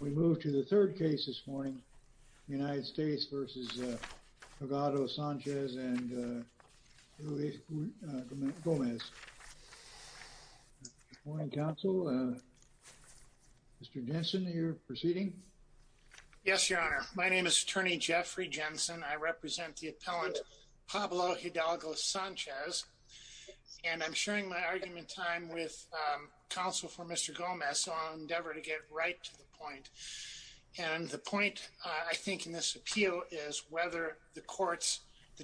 We move to the third case this morning, United States v. Hidalgo-Sanchez and Luis Gomez. Good morning, counsel. Mr. Jensen, you're proceeding. Yes, your honor. My name is attorney Jeffrey Jensen. I represent the appellant Pablo Hidalgo-Sanchez, and I'm sharing my argument time with counsel for Mr. Gomez, so I'll endeavor to get right to the point. And the point I think in this appeal is whether the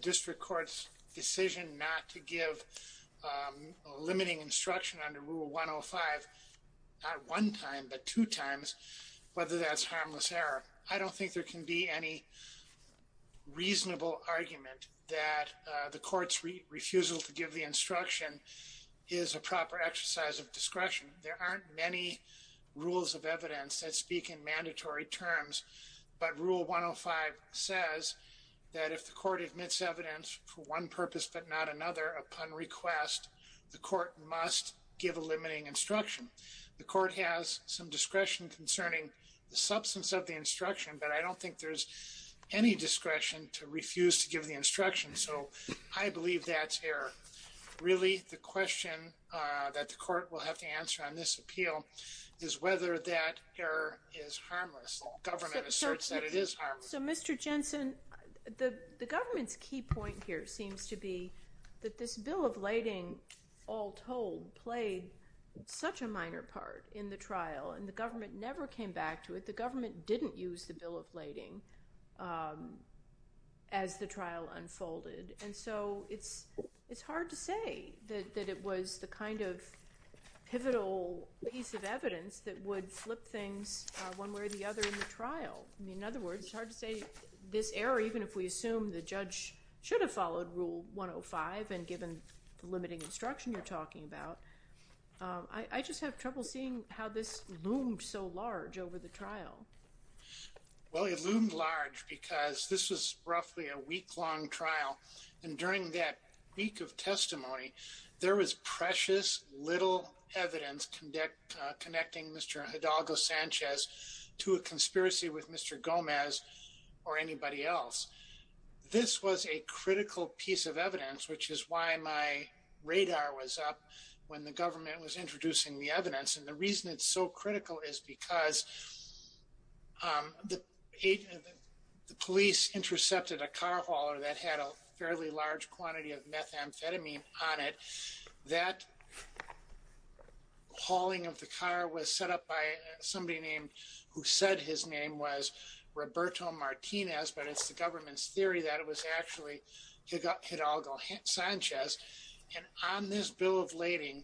district court's decision not to give a limiting instruction under Rule 105, not one time, but two times, whether that's harmless error. I don't think there can be any reasonable argument that the court's refusal to give the instruction is a proper exercise of discretion. There aren't many rules of evidence that speak in mandatory terms, but Rule 105 says that if the court admits evidence for one purpose but not another upon request, the court must give a limiting instruction. The court has some discretion concerning the substance of the instruction, but I don't think there's any discretion to refuse to give the instruction, so I believe that's error. Really, the question that the court will have to answer on this appeal is whether that error is harmless. The government asserts that it is harmless. So Mr. Jensen, the government's key point here seems to be that this Bill of Lading, all told, played such a minor part in the trial, and the government never came back to it. The government didn't use the Bill of Lading as the trial unfolded, and so it's hard to say that it was the kind of pivotal piece of evidence that would flip things one way or the other in the trial. I mean, in other words, it's hard to say this error, even if we assume the judge should have followed Rule 105, and given the limiting instruction you're talking about. I just have trouble seeing how this loomed so large over the trial. Well, it loomed large because this was a trial that was conducted in the middle of the night, and during that week of testimony, there was precious little evidence connecting Mr. Hidalgo Sanchez to a conspiracy with Mr. Gomez or anybody else. This was a critical piece of evidence, which is why my radar was up when the government was introducing the evidence, and the reason it's so critical is because the police intercepted a car hauler that had a fairly large quantity of methamphetamine on it. That hauling of the car was set up by somebody who said his name was Roberto Martinez, but it's the government's theory that it was actually Hidalgo Sanchez, and on this Bill of Lading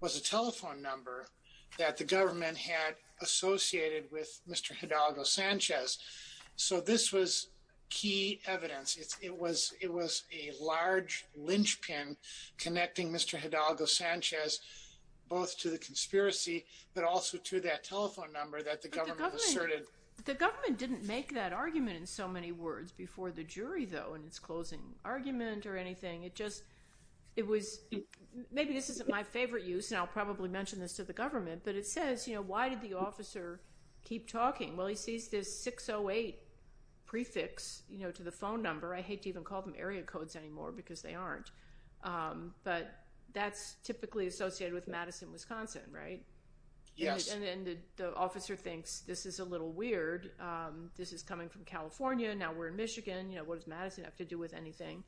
was a telephone number that the government had associated with Mr. Hidalgo Sanchez. So this was key evidence. It was a large linchpin connecting Mr. Hidalgo Sanchez both to the conspiracy, but also to that telephone number that the government asserted. The government didn't make that argument in so many words before the jury, though, in its closing argument or anything. It just, it was, maybe this isn't my favorite use, and I'll probably mention this to the government, but it says, you know, why did the officer keep talking? Well, he sees this 608 prefix, you know, to the phone number. I hate to even call them area codes anymore because they aren't, but that's typically associated with Madison, Wisconsin, right? Yes. And then the officer thinks this is a little weird. This is coming from California. Now we're in Michigan. You know, what does Madison have to do with anything?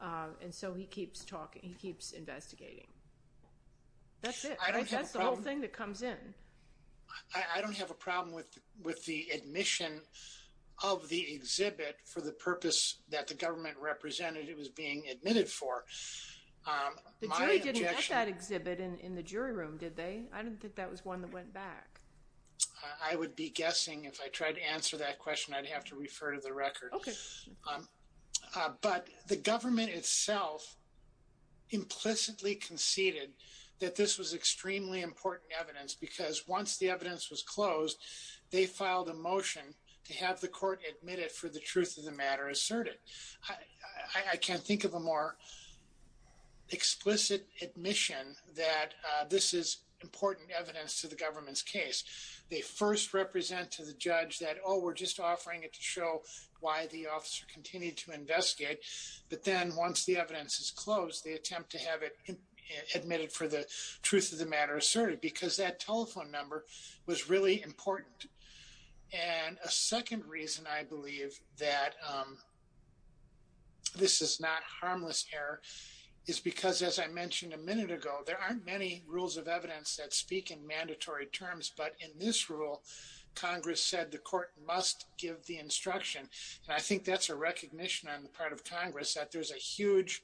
And so he keeps talking, he keeps investigating. That's it. That's the whole thing that comes in. I don't have a problem with the admission of the exhibit for the purpose that the government represented it was being admitted for. The jury didn't let that exhibit in the jury room, did they? I didn't think that was one that went back. I would be guessing if I tried to answer that question, I'd have to refer to the record. Okay. But the government itself implicitly conceded that this was extremely important evidence because once the evidence was closed, they filed a motion to have the court admit it for the truth of the matter asserted. I can't think of a more explicit admission that this is important evidence to the government's case. They first represent to the judge that, oh, we're just offering it to show why the officer continued to investigate. But then once the evidence is closed, they attempt to have it admitted for the truth of the matter asserted because that telephone number was really important. And a second reason I believe that this is not harmless error is because as I mentioned a minute ago, there aren't many rules of evidence that speak in mandatory terms, but in this rule, Congress said the court must give the instruction. And I think that's a recognition on the part of Congress that there's a huge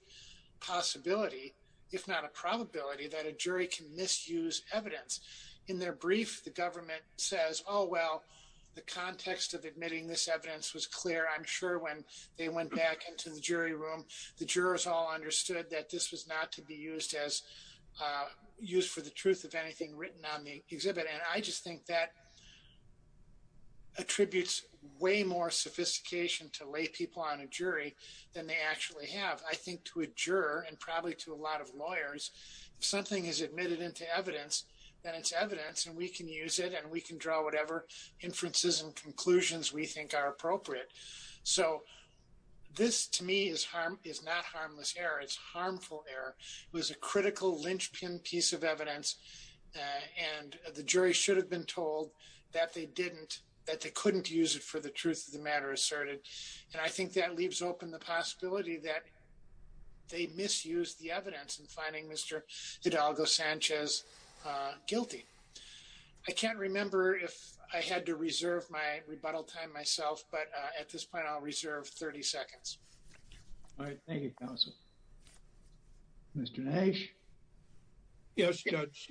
possibility, if not a probability, that a jury can misuse evidence. In their brief, the government says, oh, well, the context of admitting this evidence was clear. I'm sure when they went back into the jury room, the jurors all understood that this was not to be used as used for the truth of anything written on the exhibit. And I just think that attributes way more sophistication to lay people on a jury than they actually have. I think to a juror and probably to a lot of lawyers, if something is admitted into evidence, then it's evidence and we can use it and we can draw whatever inferences and conclusions we think are appropriate. So this to me is not harmless error, it's harmful error. It was a critical linchpin piece of evidence and the jury should have been told that they didn't, that they couldn't use it for the truth of the matter asserted. And I think that leaves open the possibility that they misused the evidence in finding Mr. Hidalgo-Sanchez guilty. I can't remember if I had to reserve my rebuttal time myself but at this point, I'll reserve 30 seconds. All right, thank you, counsel. Mr. Nash. Yes, Judge,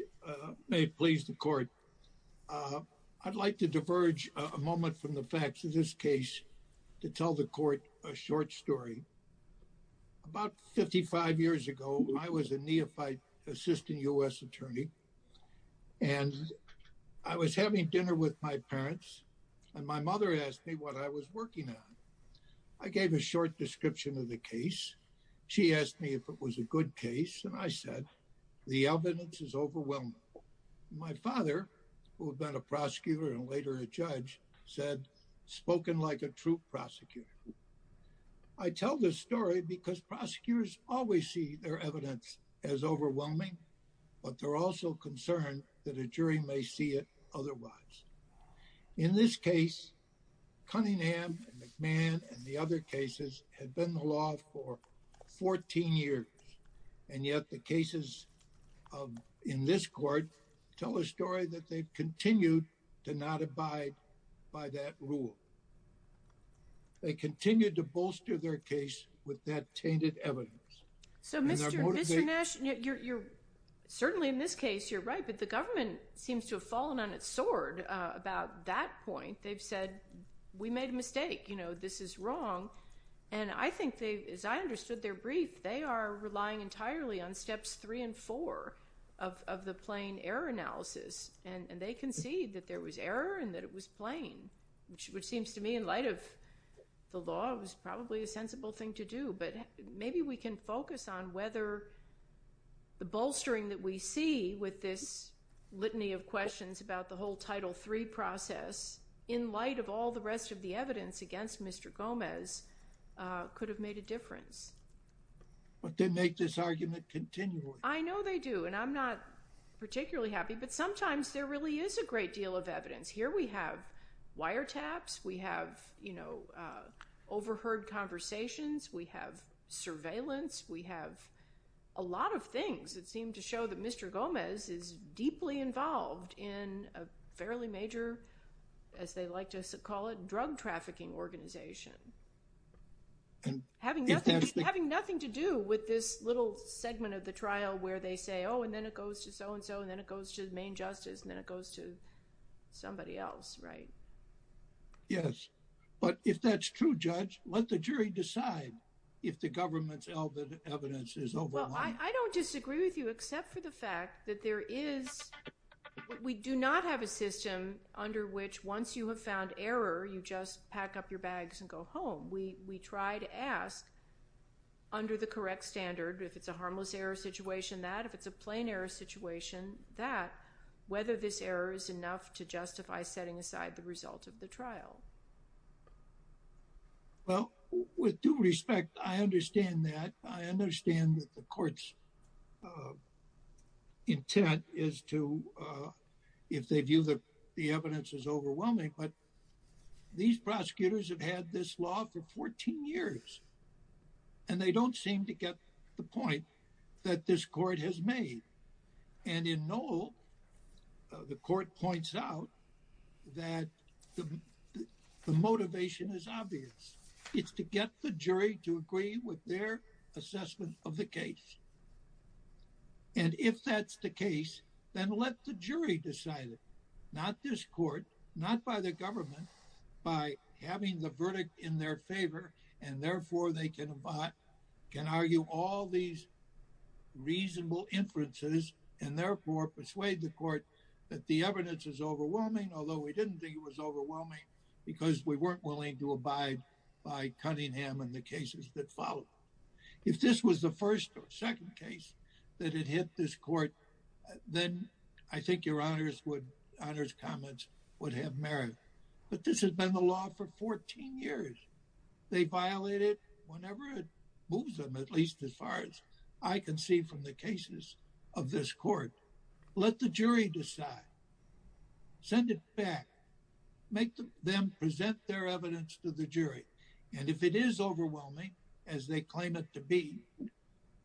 may it please the court. I'd like to diverge a moment from the facts of this case to tell the court a short story. About 55 years ago, I was a neophyte assistant U.S. attorney and I was having dinner with my parents and my mother asked me what I was working on. I gave a short description of the case. She asked me if it was a good case and I said, the evidence is overwhelming. My father, who had been a prosecutor and later a judge, said, spoken like a true prosecutor. I tell this story because prosecutors always see their evidence as overwhelming but they're also concerned that a jury may see it otherwise. In this case, Cunningham and McMahon and the other cases had been in the law for 14 years and yet the cases in this court tell a story that they've continued to not abide by that rule. They continued to bolster their case with that tainted evidence. So Mr. Nash, you're certainly in this case, you're right, but the government seems to have fallen on its sword about that point. They've said, we made a mistake, this is wrong and I think they, as I understood their brief, they are relying entirely on steps three and four of the plain error analysis and they concede that there was error and that it was plain, which seems to me, in light of the law, it was probably a sensible thing to do but maybe we can focus on whether the bolstering that we see with this litany of questions about the whole Title III process in light of all the rest of the evidence against Mr. Gomez could have made a difference. But they make this argument continually. I know they do and I'm not particularly happy but sometimes there really is a great deal of evidence. Here we have wiretaps, we have overheard conversations, we have surveillance, we have a lot of things that seem to show that Mr. Gomez is deeply involved in a fairly major, as they like to call it, drug trafficking organization. Having nothing to do with this little segment of the trial where they say, oh, and then it goes to so-and-so and then it goes to the main justice and then it goes to somebody else, right? Yes, but if that's true, Judge, let the jury decide if the government's evidence is over. Well, I don't disagree with you except for the fact that there is, we do not have a system under which once you have found error, you just pack up your bags and go home. We try to ask under the correct standard, if it's a harmless error situation, that, if it's a plain error situation, that, whether this error is enough to justify setting aside the result of the trial. Well, with due respect, I understand that. I understand that the court's intent is to, if they view the evidence as overwhelming, but these prosecutors have had this law for 14 years and they don't seem to get the point that this court has made. And in Noel, the court points out that the motivation is obvious. It's to get the jury to agree with their assessment of the case. And if that's the case, then let the jury decide it, not this court, not by the government, by having the verdict in their favor. And therefore they can argue all these reasonable inferences and therefore persuade the court that the evidence is overwhelming, although we didn't think it was overwhelming because we weren't willing to abide by cutting him in the cases that followed. If this was the first or second case that had hit this court, then I think Your Honor's comments would have merit. But this has been the law for 14 years. They violate it whenever it moves them, at least as far as I can see from the cases of this court. Let the jury decide. Send it back. Make them present their evidence to the jury. And if it is overwhelming, as they claim it to be,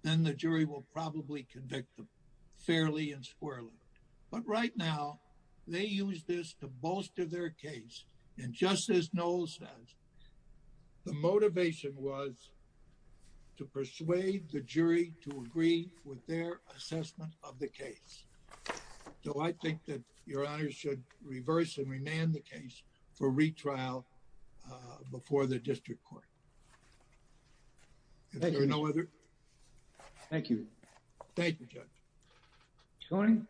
then the jury will probably convict them fairly and squarely. But right now they use this to bolster their case. And just as Noel says, the motivation was to persuade the jury to agree with their assessment of the case. So I think that Your Honor should reverse and remand the case for retrial before the district court. Thank you. Is there no other? Thank you. Thank you, Judge. Koenig?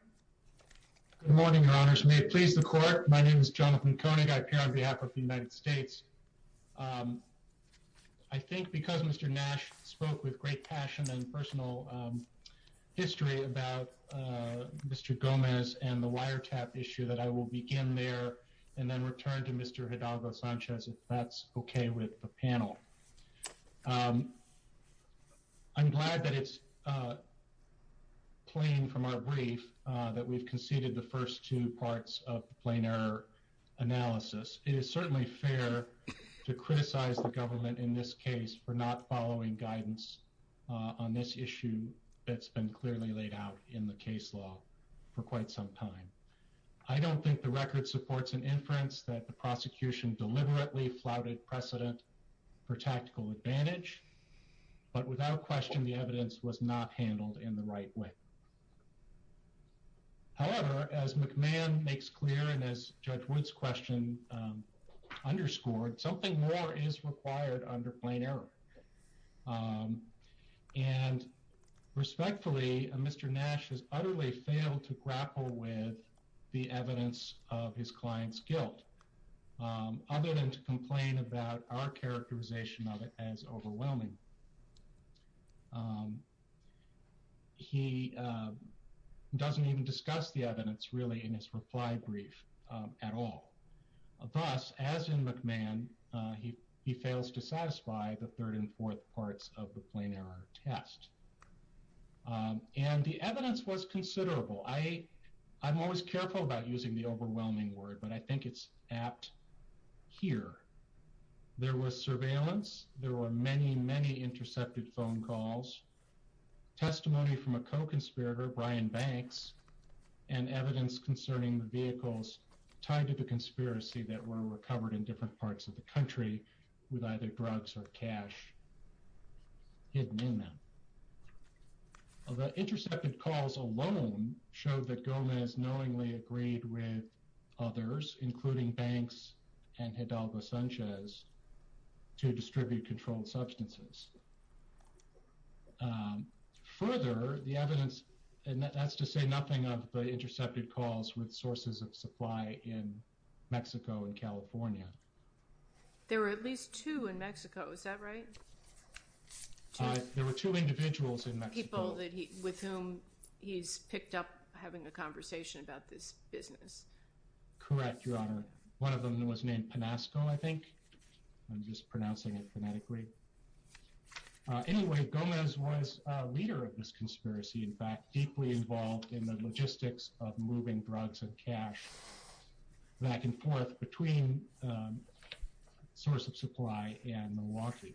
Good morning, Your Honors. May it please the court. My name is Jonathan Koenig. I appear on behalf of the United States. I think because Mr. Nash spoke with great passion and personal history about Mr. Gomez and the wiretap issue that I will begin there and then return to Mr. Hidalgo Sanchez if that's okay with the panel. I'm glad that it's plain from our brief that we've conceded the first two parts of the plain error analysis. It is certainly fair to criticize the government in this case for not following guidance on this issue that's been clearly laid out in the case law for quite some time. I don't think the record supports an inference that the prosecution deliberately flouted precedent for tactical advantage, but without question, the evidence was not handled in the right way. However, as McMahon makes clear and as Judge Wood's question underscored, something more is required under plain error. And respectfully, Mr. Nash has utterly failed to grapple with the evidence of his client's guilt other than to complain about our characterization of it as overwhelming. He doesn't even discuss the evidence really in his reply brief at all. Thus, as in McMahon, he fails to satisfy the third and fourth parts of the plain error test. And the evidence was considerable. I'm always careful about using the overwhelming word, but I think it's apt here. There was surveillance. There were many, many intercepted phone calls, testimony from a co-conspirator, Brian Banks, and evidence concerning the vehicles tied to the conspiracy that were recovered in different parts of the country with either drugs or cash hidden in them. Well, the intercepted calls alone showed that Gomez knowingly agreed with others, including Banks and Hidalgo Sanchez, to distribute controlled substances. Further, the evidence, and that's to say nothing of the intercepted calls with sources of supply in Mexico and California. There were at least two in Mexico, is that right? There were two individuals in Mexico. With whom he's picked up having a conversation about this business. Correct, Your Honor. One of them was named Panasco, I think. I'm just pronouncing it phonetically. Anyway, Gomez was a leader of this conspiracy, in fact, deeply involved in the logistics of moving drugs and cash back and forth between source of supply and Milwaukee. Thank you.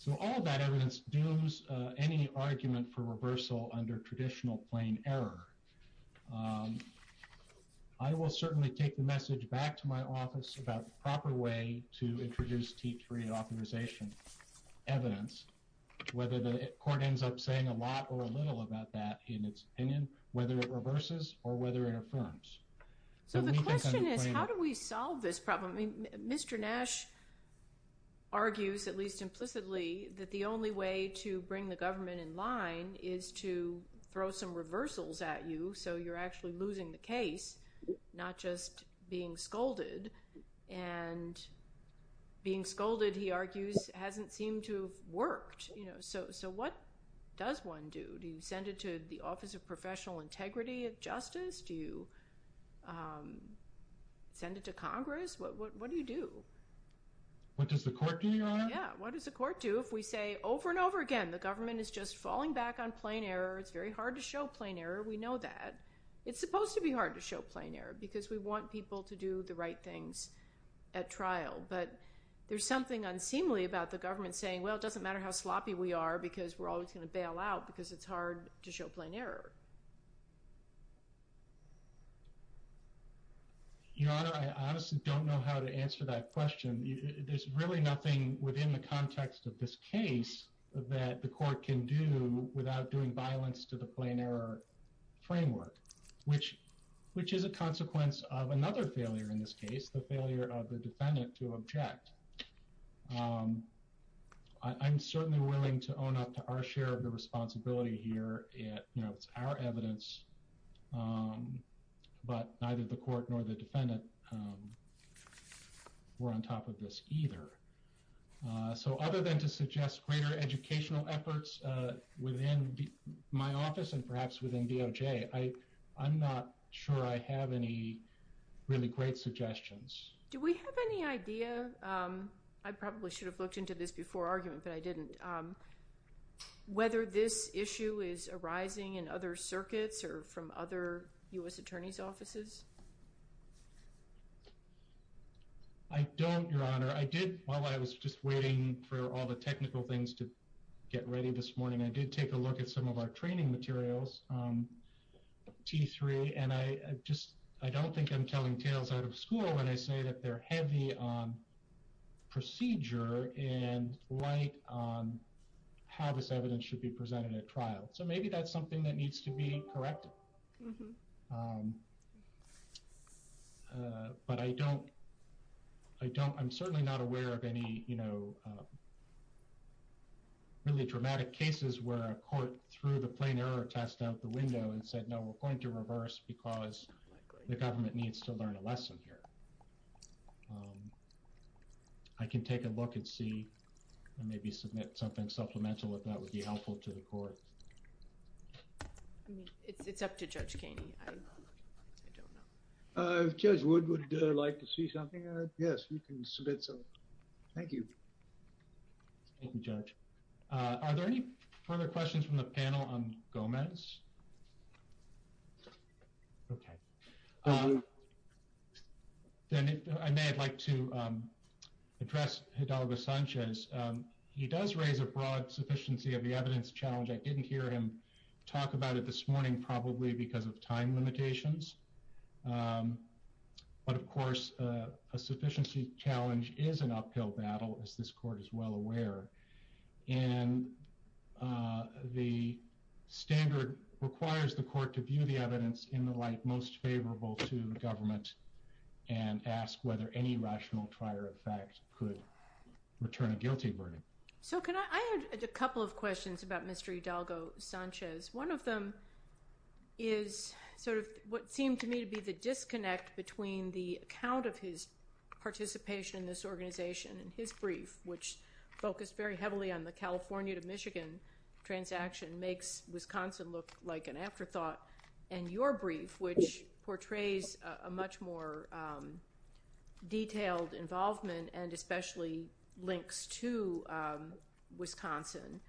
So all of that evidence dooms any argument for reversal under traditional plain error. I will certainly take the message back to my office about the proper way to introduce T3 authorization evidence, whether the court ends up saying a lot or a little about that in its opinion, whether it reverses or whether it affirms. So the question is, how do we solve this problem? Mr. Nash argues, at least implicitly, that the only way to bring the government in line is to throw some reversals at you so you're actually losing the case, not just being scolded. And being scolded, he argues, hasn't seemed to have worked. So what does one do? Do you send it to the Office of Professional Integrity of Justice? Do you send it to Congress? What do you do? What does the court do, Your Honor? Yeah, what does the court do if we say over and over again, the government is just falling back on plain error, it's very hard to show plain error, we know that. It's supposed to be hard to show plain error because we want people to do the right things at trial. But there's something unseemly about the government saying, well, it doesn't matter how sloppy we are because we're always gonna bail out because it's hard to show plain error. Your Honor, I honestly don't know how to answer that question. There's really nothing within the context of this case that the court can do without doing violence to the plain error framework, which is a consequence of another failure in this case, the failure of the defendant to object. I'm certainly willing to own up to our share of the responsibility here at, it's actually a very important issue and our evidence, but neither the court nor the defendant were on top of this either. So other than to suggest greater educational efforts within my office and perhaps within DOJ, I'm not sure I have any really great suggestions. Do we have any idea? I probably should have looked into this before argument, but I didn't. And whether this issue is arising in other circuits or from other U.S. attorney's offices? I don't, Your Honor. I did, while I was just waiting for all the technical things to get ready this morning, I did take a look at some of our training materials, T3, and I just, I don't think I'm telling tales out of school when I say that they're heavy on procedure and light on how this evidence should be presented at trial. So maybe that's something that needs to be corrected. But I don't, I don't, I'm certainly not aware of any, you know, really dramatic cases where a court threw the plain error test out the window and said, no, we're going to reverse because the government needs to learn a lesson here. I can take a look and see and maybe submit something supplemental if that would be helpful to the court. I mean, it's up to Judge Kaney. I don't know. If Judge Wood would like to see something, yes, you can submit something. Thank you. Thank you, Judge. Are there any further questions from the panel on Gomez? Okay. Then if I may, I'd like to address Hidalgo Sanchez. He does raise a broad sufficiency of the evidence challenge. I didn't hear him talk about it this morning, probably because of time limitations. But of course, a sufficiency challenge is an uphill battle as this court is well aware. And the standard requires the court to view the evidence in the light most favorable to government and ask whether any rational prior effect could return a guilty verdict. So can I add a couple of questions about Mr. Hidalgo Sanchez? One of them is sort of what seemed to me to be the disconnect between the account of his participation in this organization and his brief, which focused very heavily on the California to Michigan transaction makes Wisconsin look like an afterthought and your brief, which portrays a much more detailed involvement and especially links to Wisconsin.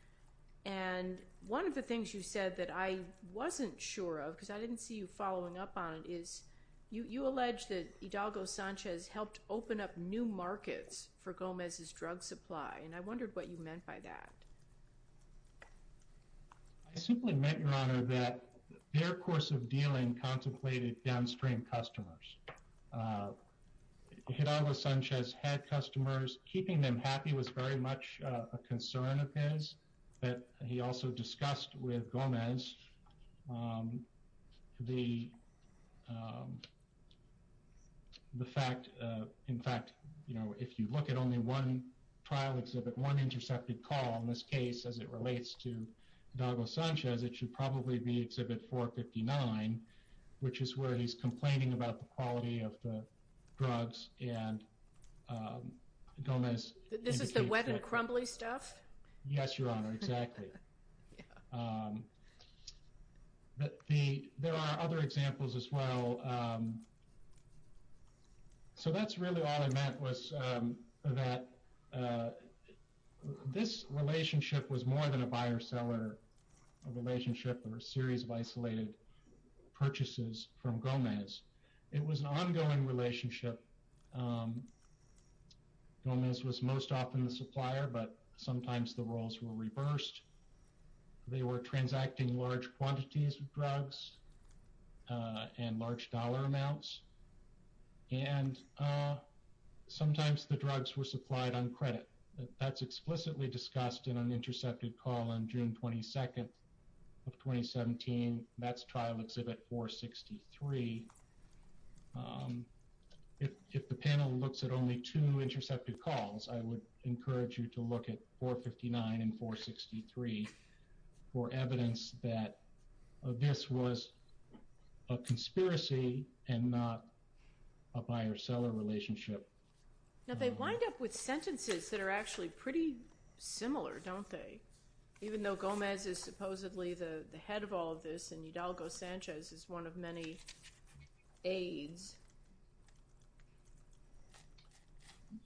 And one of the things you said that I wasn't sure of, because I didn't see you following up on it, is you allege that Hidalgo Sanchez helped open up new markets for Gomez's drug supply. And I wondered what you meant by that. I simply meant, Your Honor, that their course of dealing contemplated downstream customers. Hidalgo Sanchez had customers, keeping them happy was very much a concern of his, but he also discussed with Gomez the fact, in fact, if you look at only one trial exhibit, one intercepted call in this case, as it relates to Hidalgo Sanchez, it should probably be exhibit 459, which is where he's complaining about the quality of the drugs and Gomez indicates that. This is the wet and crumbly stuff? Yes, Your Honor, exactly. There are other examples as well. So that's really all I meant was that this relationship was more than a buyer seller relationship or a series of isolated purchases from Gomez. It was an ongoing relationship. Gomez was most often the supplier, but sometimes the roles were reversed. They were transacting large quantities of drugs and large dollar amounts. And sometimes the drugs were supplied on credit. That's explicitly discussed in an intercepted call on June 22nd of 2017, that's trial exhibit 463. If the panel looks at only two intercepted calls, I would encourage you to look at 459 and 463 for evidence that this was a conspiracy and not a buyer seller relationship. Now, they wind up with sentences that are actually pretty similar, don't they? Even though Gomez is supposedly the head of all of this and Hidalgo Sanchez is one of many aides.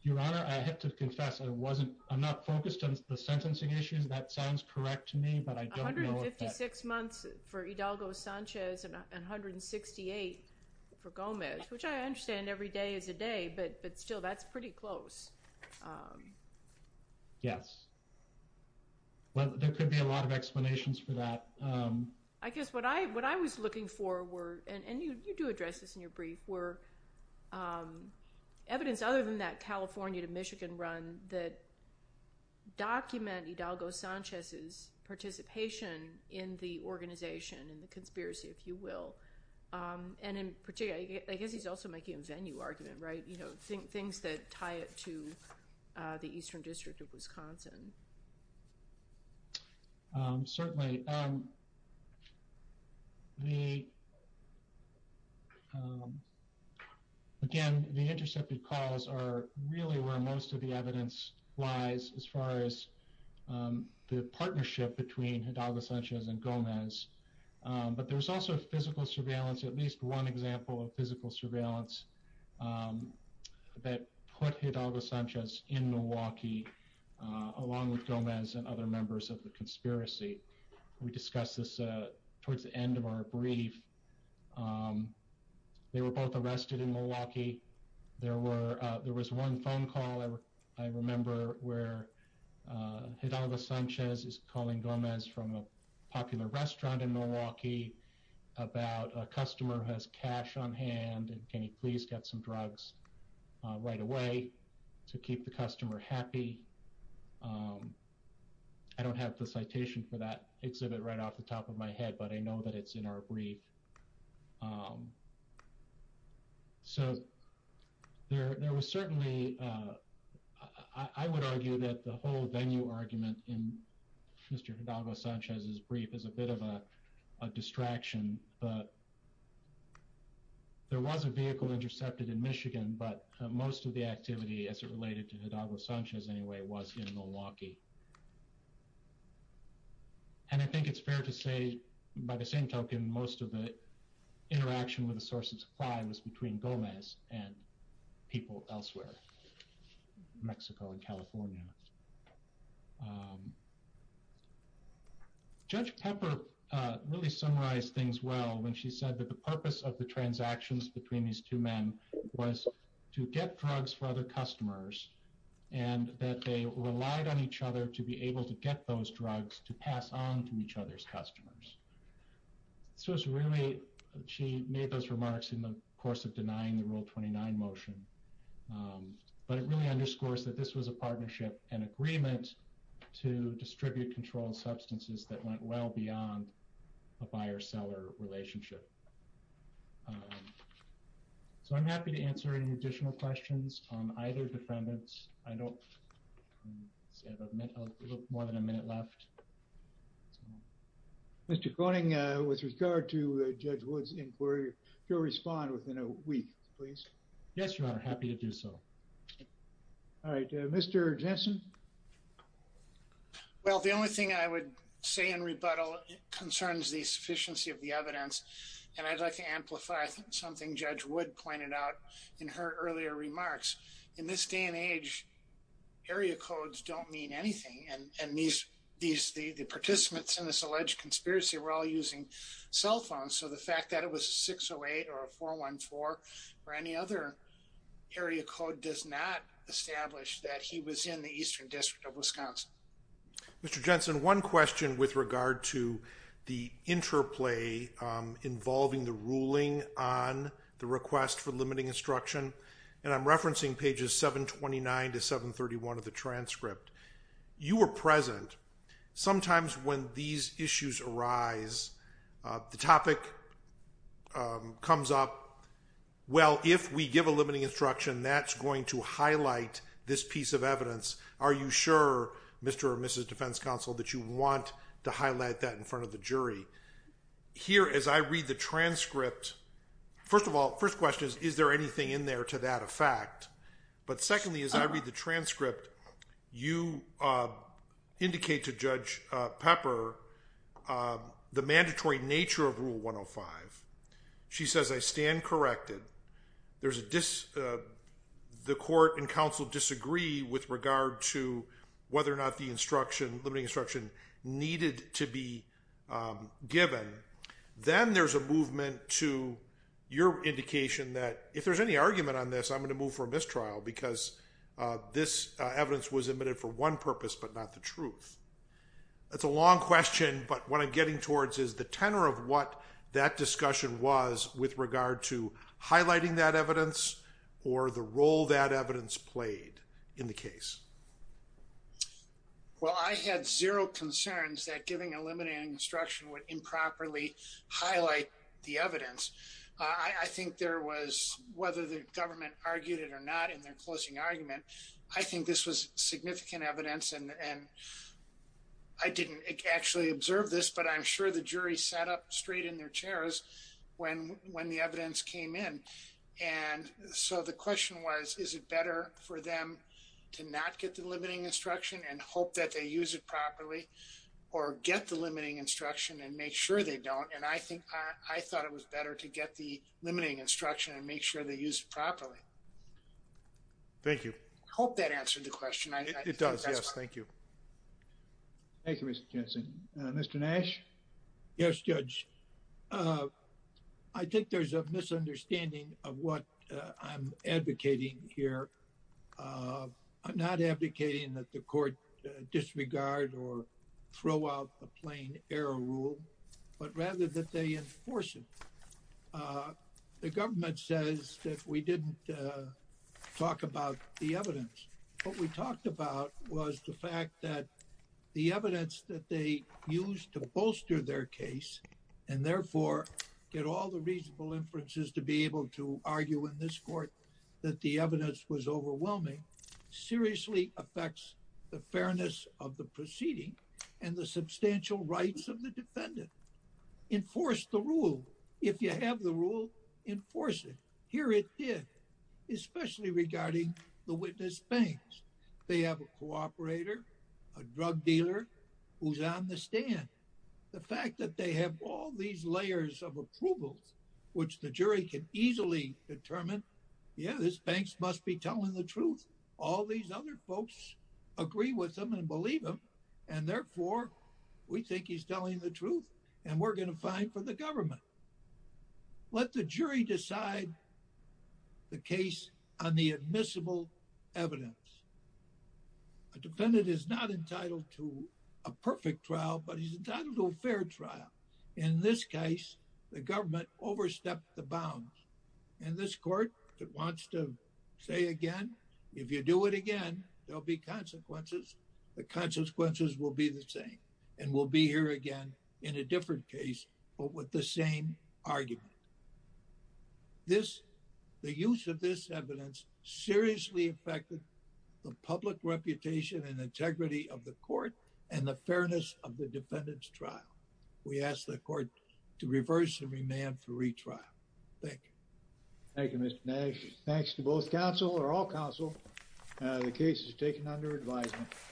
Your Honor, I have to confess I wasn't, I'm not focused on the sentencing issues. That sounds correct to me, but I don't know if that- 156 months for Hidalgo Sanchez and 168 for Gomez, which I understand every day is a day, but still that's pretty close. Yes. Well, there could be a lot of explanations for that. I guess what I was looking for were, and you do address this in your brief, were evidence other than that California to Michigan run that document Hidalgo Sanchez's participation in the organization, in the conspiracy, if you will. And in particular, I guess he's also making a venue argument, right? Things that tie it to the Eastern District of Wisconsin. Certainly. Again, the intercepted calls are really where most of the evidence lies as far as the partnership between Hidalgo Sanchez and Gomez. But there's also physical surveillance, at least one example of physical surveillance that put Hidalgo Sanchez in Milwaukee along with Gomez and other members of the conspiracy. We discussed this towards the end of our brief. They were both arrested in Milwaukee. There was one phone call I remember where Hidalgo Sanchez is calling Gomez from a popular restaurant in Milwaukee about a customer has cash on hand. And can you please get some drugs right away to keep the customer happy? I don't have the citation for that exhibit right off the top of my head, but I know that it's in our brief. So there was certainly, I would argue that the whole venue argument in Mr. Hidalgo Sanchez's brief is a bit of a distraction, but there was a vehicle intercepted in Michigan, but most of the activity as it related to Hidalgo Sanchez anyway was in Milwaukee. And I think it's fair to say by the same token, most of the interaction with the source of supply was between Gomez and people elsewhere, Mexico and California. Judge Pepper really summarized things well when she said that the purpose of the transactions between these two men was to get drugs for other customers and that they relied on each other to be able to get those drugs to pass on to each other's customers. So it's really, she made those remarks in the course of denying the rule 29 motion, but it really underscores that this was a partnership and agreement to distribute controlled substances that went well beyond a buyer seller relationship. So I'm happy to answer any additional questions on either defendants. I don't have more than a minute left. Mr. Koenig, with regard to Judge Wood's inquiry, he'll respond within a week, please. Yes, Your Honor, happy to do so. All right, Mr. Jensen. Well, the only thing I would say in rebuttal concerns the sufficiency of the evidence. And I'd like to amplify something Judge Wood pointed out in her earlier remarks. In this day and age, area codes don't mean anything. And the participants in this alleged conspiracy were all using cell phones. So the fact that it was a 608 or a 414 or any other area code does not establish that he was in the Eastern District of Wisconsin. Mr. Jensen, one question with regard to the interplay involving the ruling on the request for limiting instruction. And I'm referencing pages 729 to 731 of the transcript. You were present. Sometimes when these issues arise, the topic comes up. Well, if we give a limiting instruction, that's going to highlight this piece of evidence. Are you sure, Mr. or Mrs. Defense Counsel, that you want to highlight that in front of the jury? Here, as I read the transcript, first of all, first question is, is there anything in there to that effect? But secondly, as I read the transcript, you indicate to Judge Pepper the mandatory nature of Rule 105. She says, I stand corrected. The court and counsel disagree with regard to whether or not the limiting instruction needed to be given. Then there's a movement to your indication that if there's any argument on this, I'm going to move for a mistrial because this evidence was admitted for one purpose, but not the truth. That's a long question, but what I'm getting towards is the tenor of what that discussion was with regard to highlighting that evidence or the role that evidence played in the case. Well, I had zero concerns that giving a limiting instruction would improperly highlight the evidence. I think there was, whether the government argued it or not in their closing argument, I think this was significant evidence and I didn't actually observe this, but I'm sure the jury sat up straight in their chairs when the evidence came in. And so the question was, is it better for them to not get the limiting instruction and hope that they use it properly or get the limiting instruction and make sure they don't? And I thought it was better to get the limiting instruction Thank you. I hope that answered the question. It does. Yes, thank you. Thank you, Mr. Jensen. Mr. Nash. Yes, judge. I think there's a misunderstanding of what I'm advocating here. I'm not advocating that the court disregard or throw out the plain error rule, but rather that they enforce it. The government says that we didn't talk about the evidence, what we talked about was the fact that the evidence that they used to bolster their case and therefore get all the reasonable inferences to be able to argue in this court that the evidence was overwhelming, seriously affects the fairness of the proceeding and the substantial rights of the defendant. Enforce the rule. If you have the rule, enforce it. Here it did, especially regarding the witness banks. They have a cooperator, a drug dealer who's on the stand. The fact that they have all these layers of approvals which the jury can easily determine, yeah, this bank must be telling the truth. All these other folks agree with them and believe them. And therefore we think he's telling the truth and we're gonna find for the government. Let the jury decide the case on the admissible evidence. A defendant is not entitled to a perfect trial, but he's entitled to a fair trial. In this case, the government overstepped the bounds. And this court wants to say again, if you do it again, there'll be consequences. The consequences will be the same and we'll be here again in a different case, but with the same argument. The use of this evidence seriously affected the public reputation and integrity of the court and the fairness of the defendant's trial. We ask the court to reverse and remand for retrial. Thank you. Thank you, Mr. Nash. Thanks to both counsel or all counsel. The case is taken under advisement.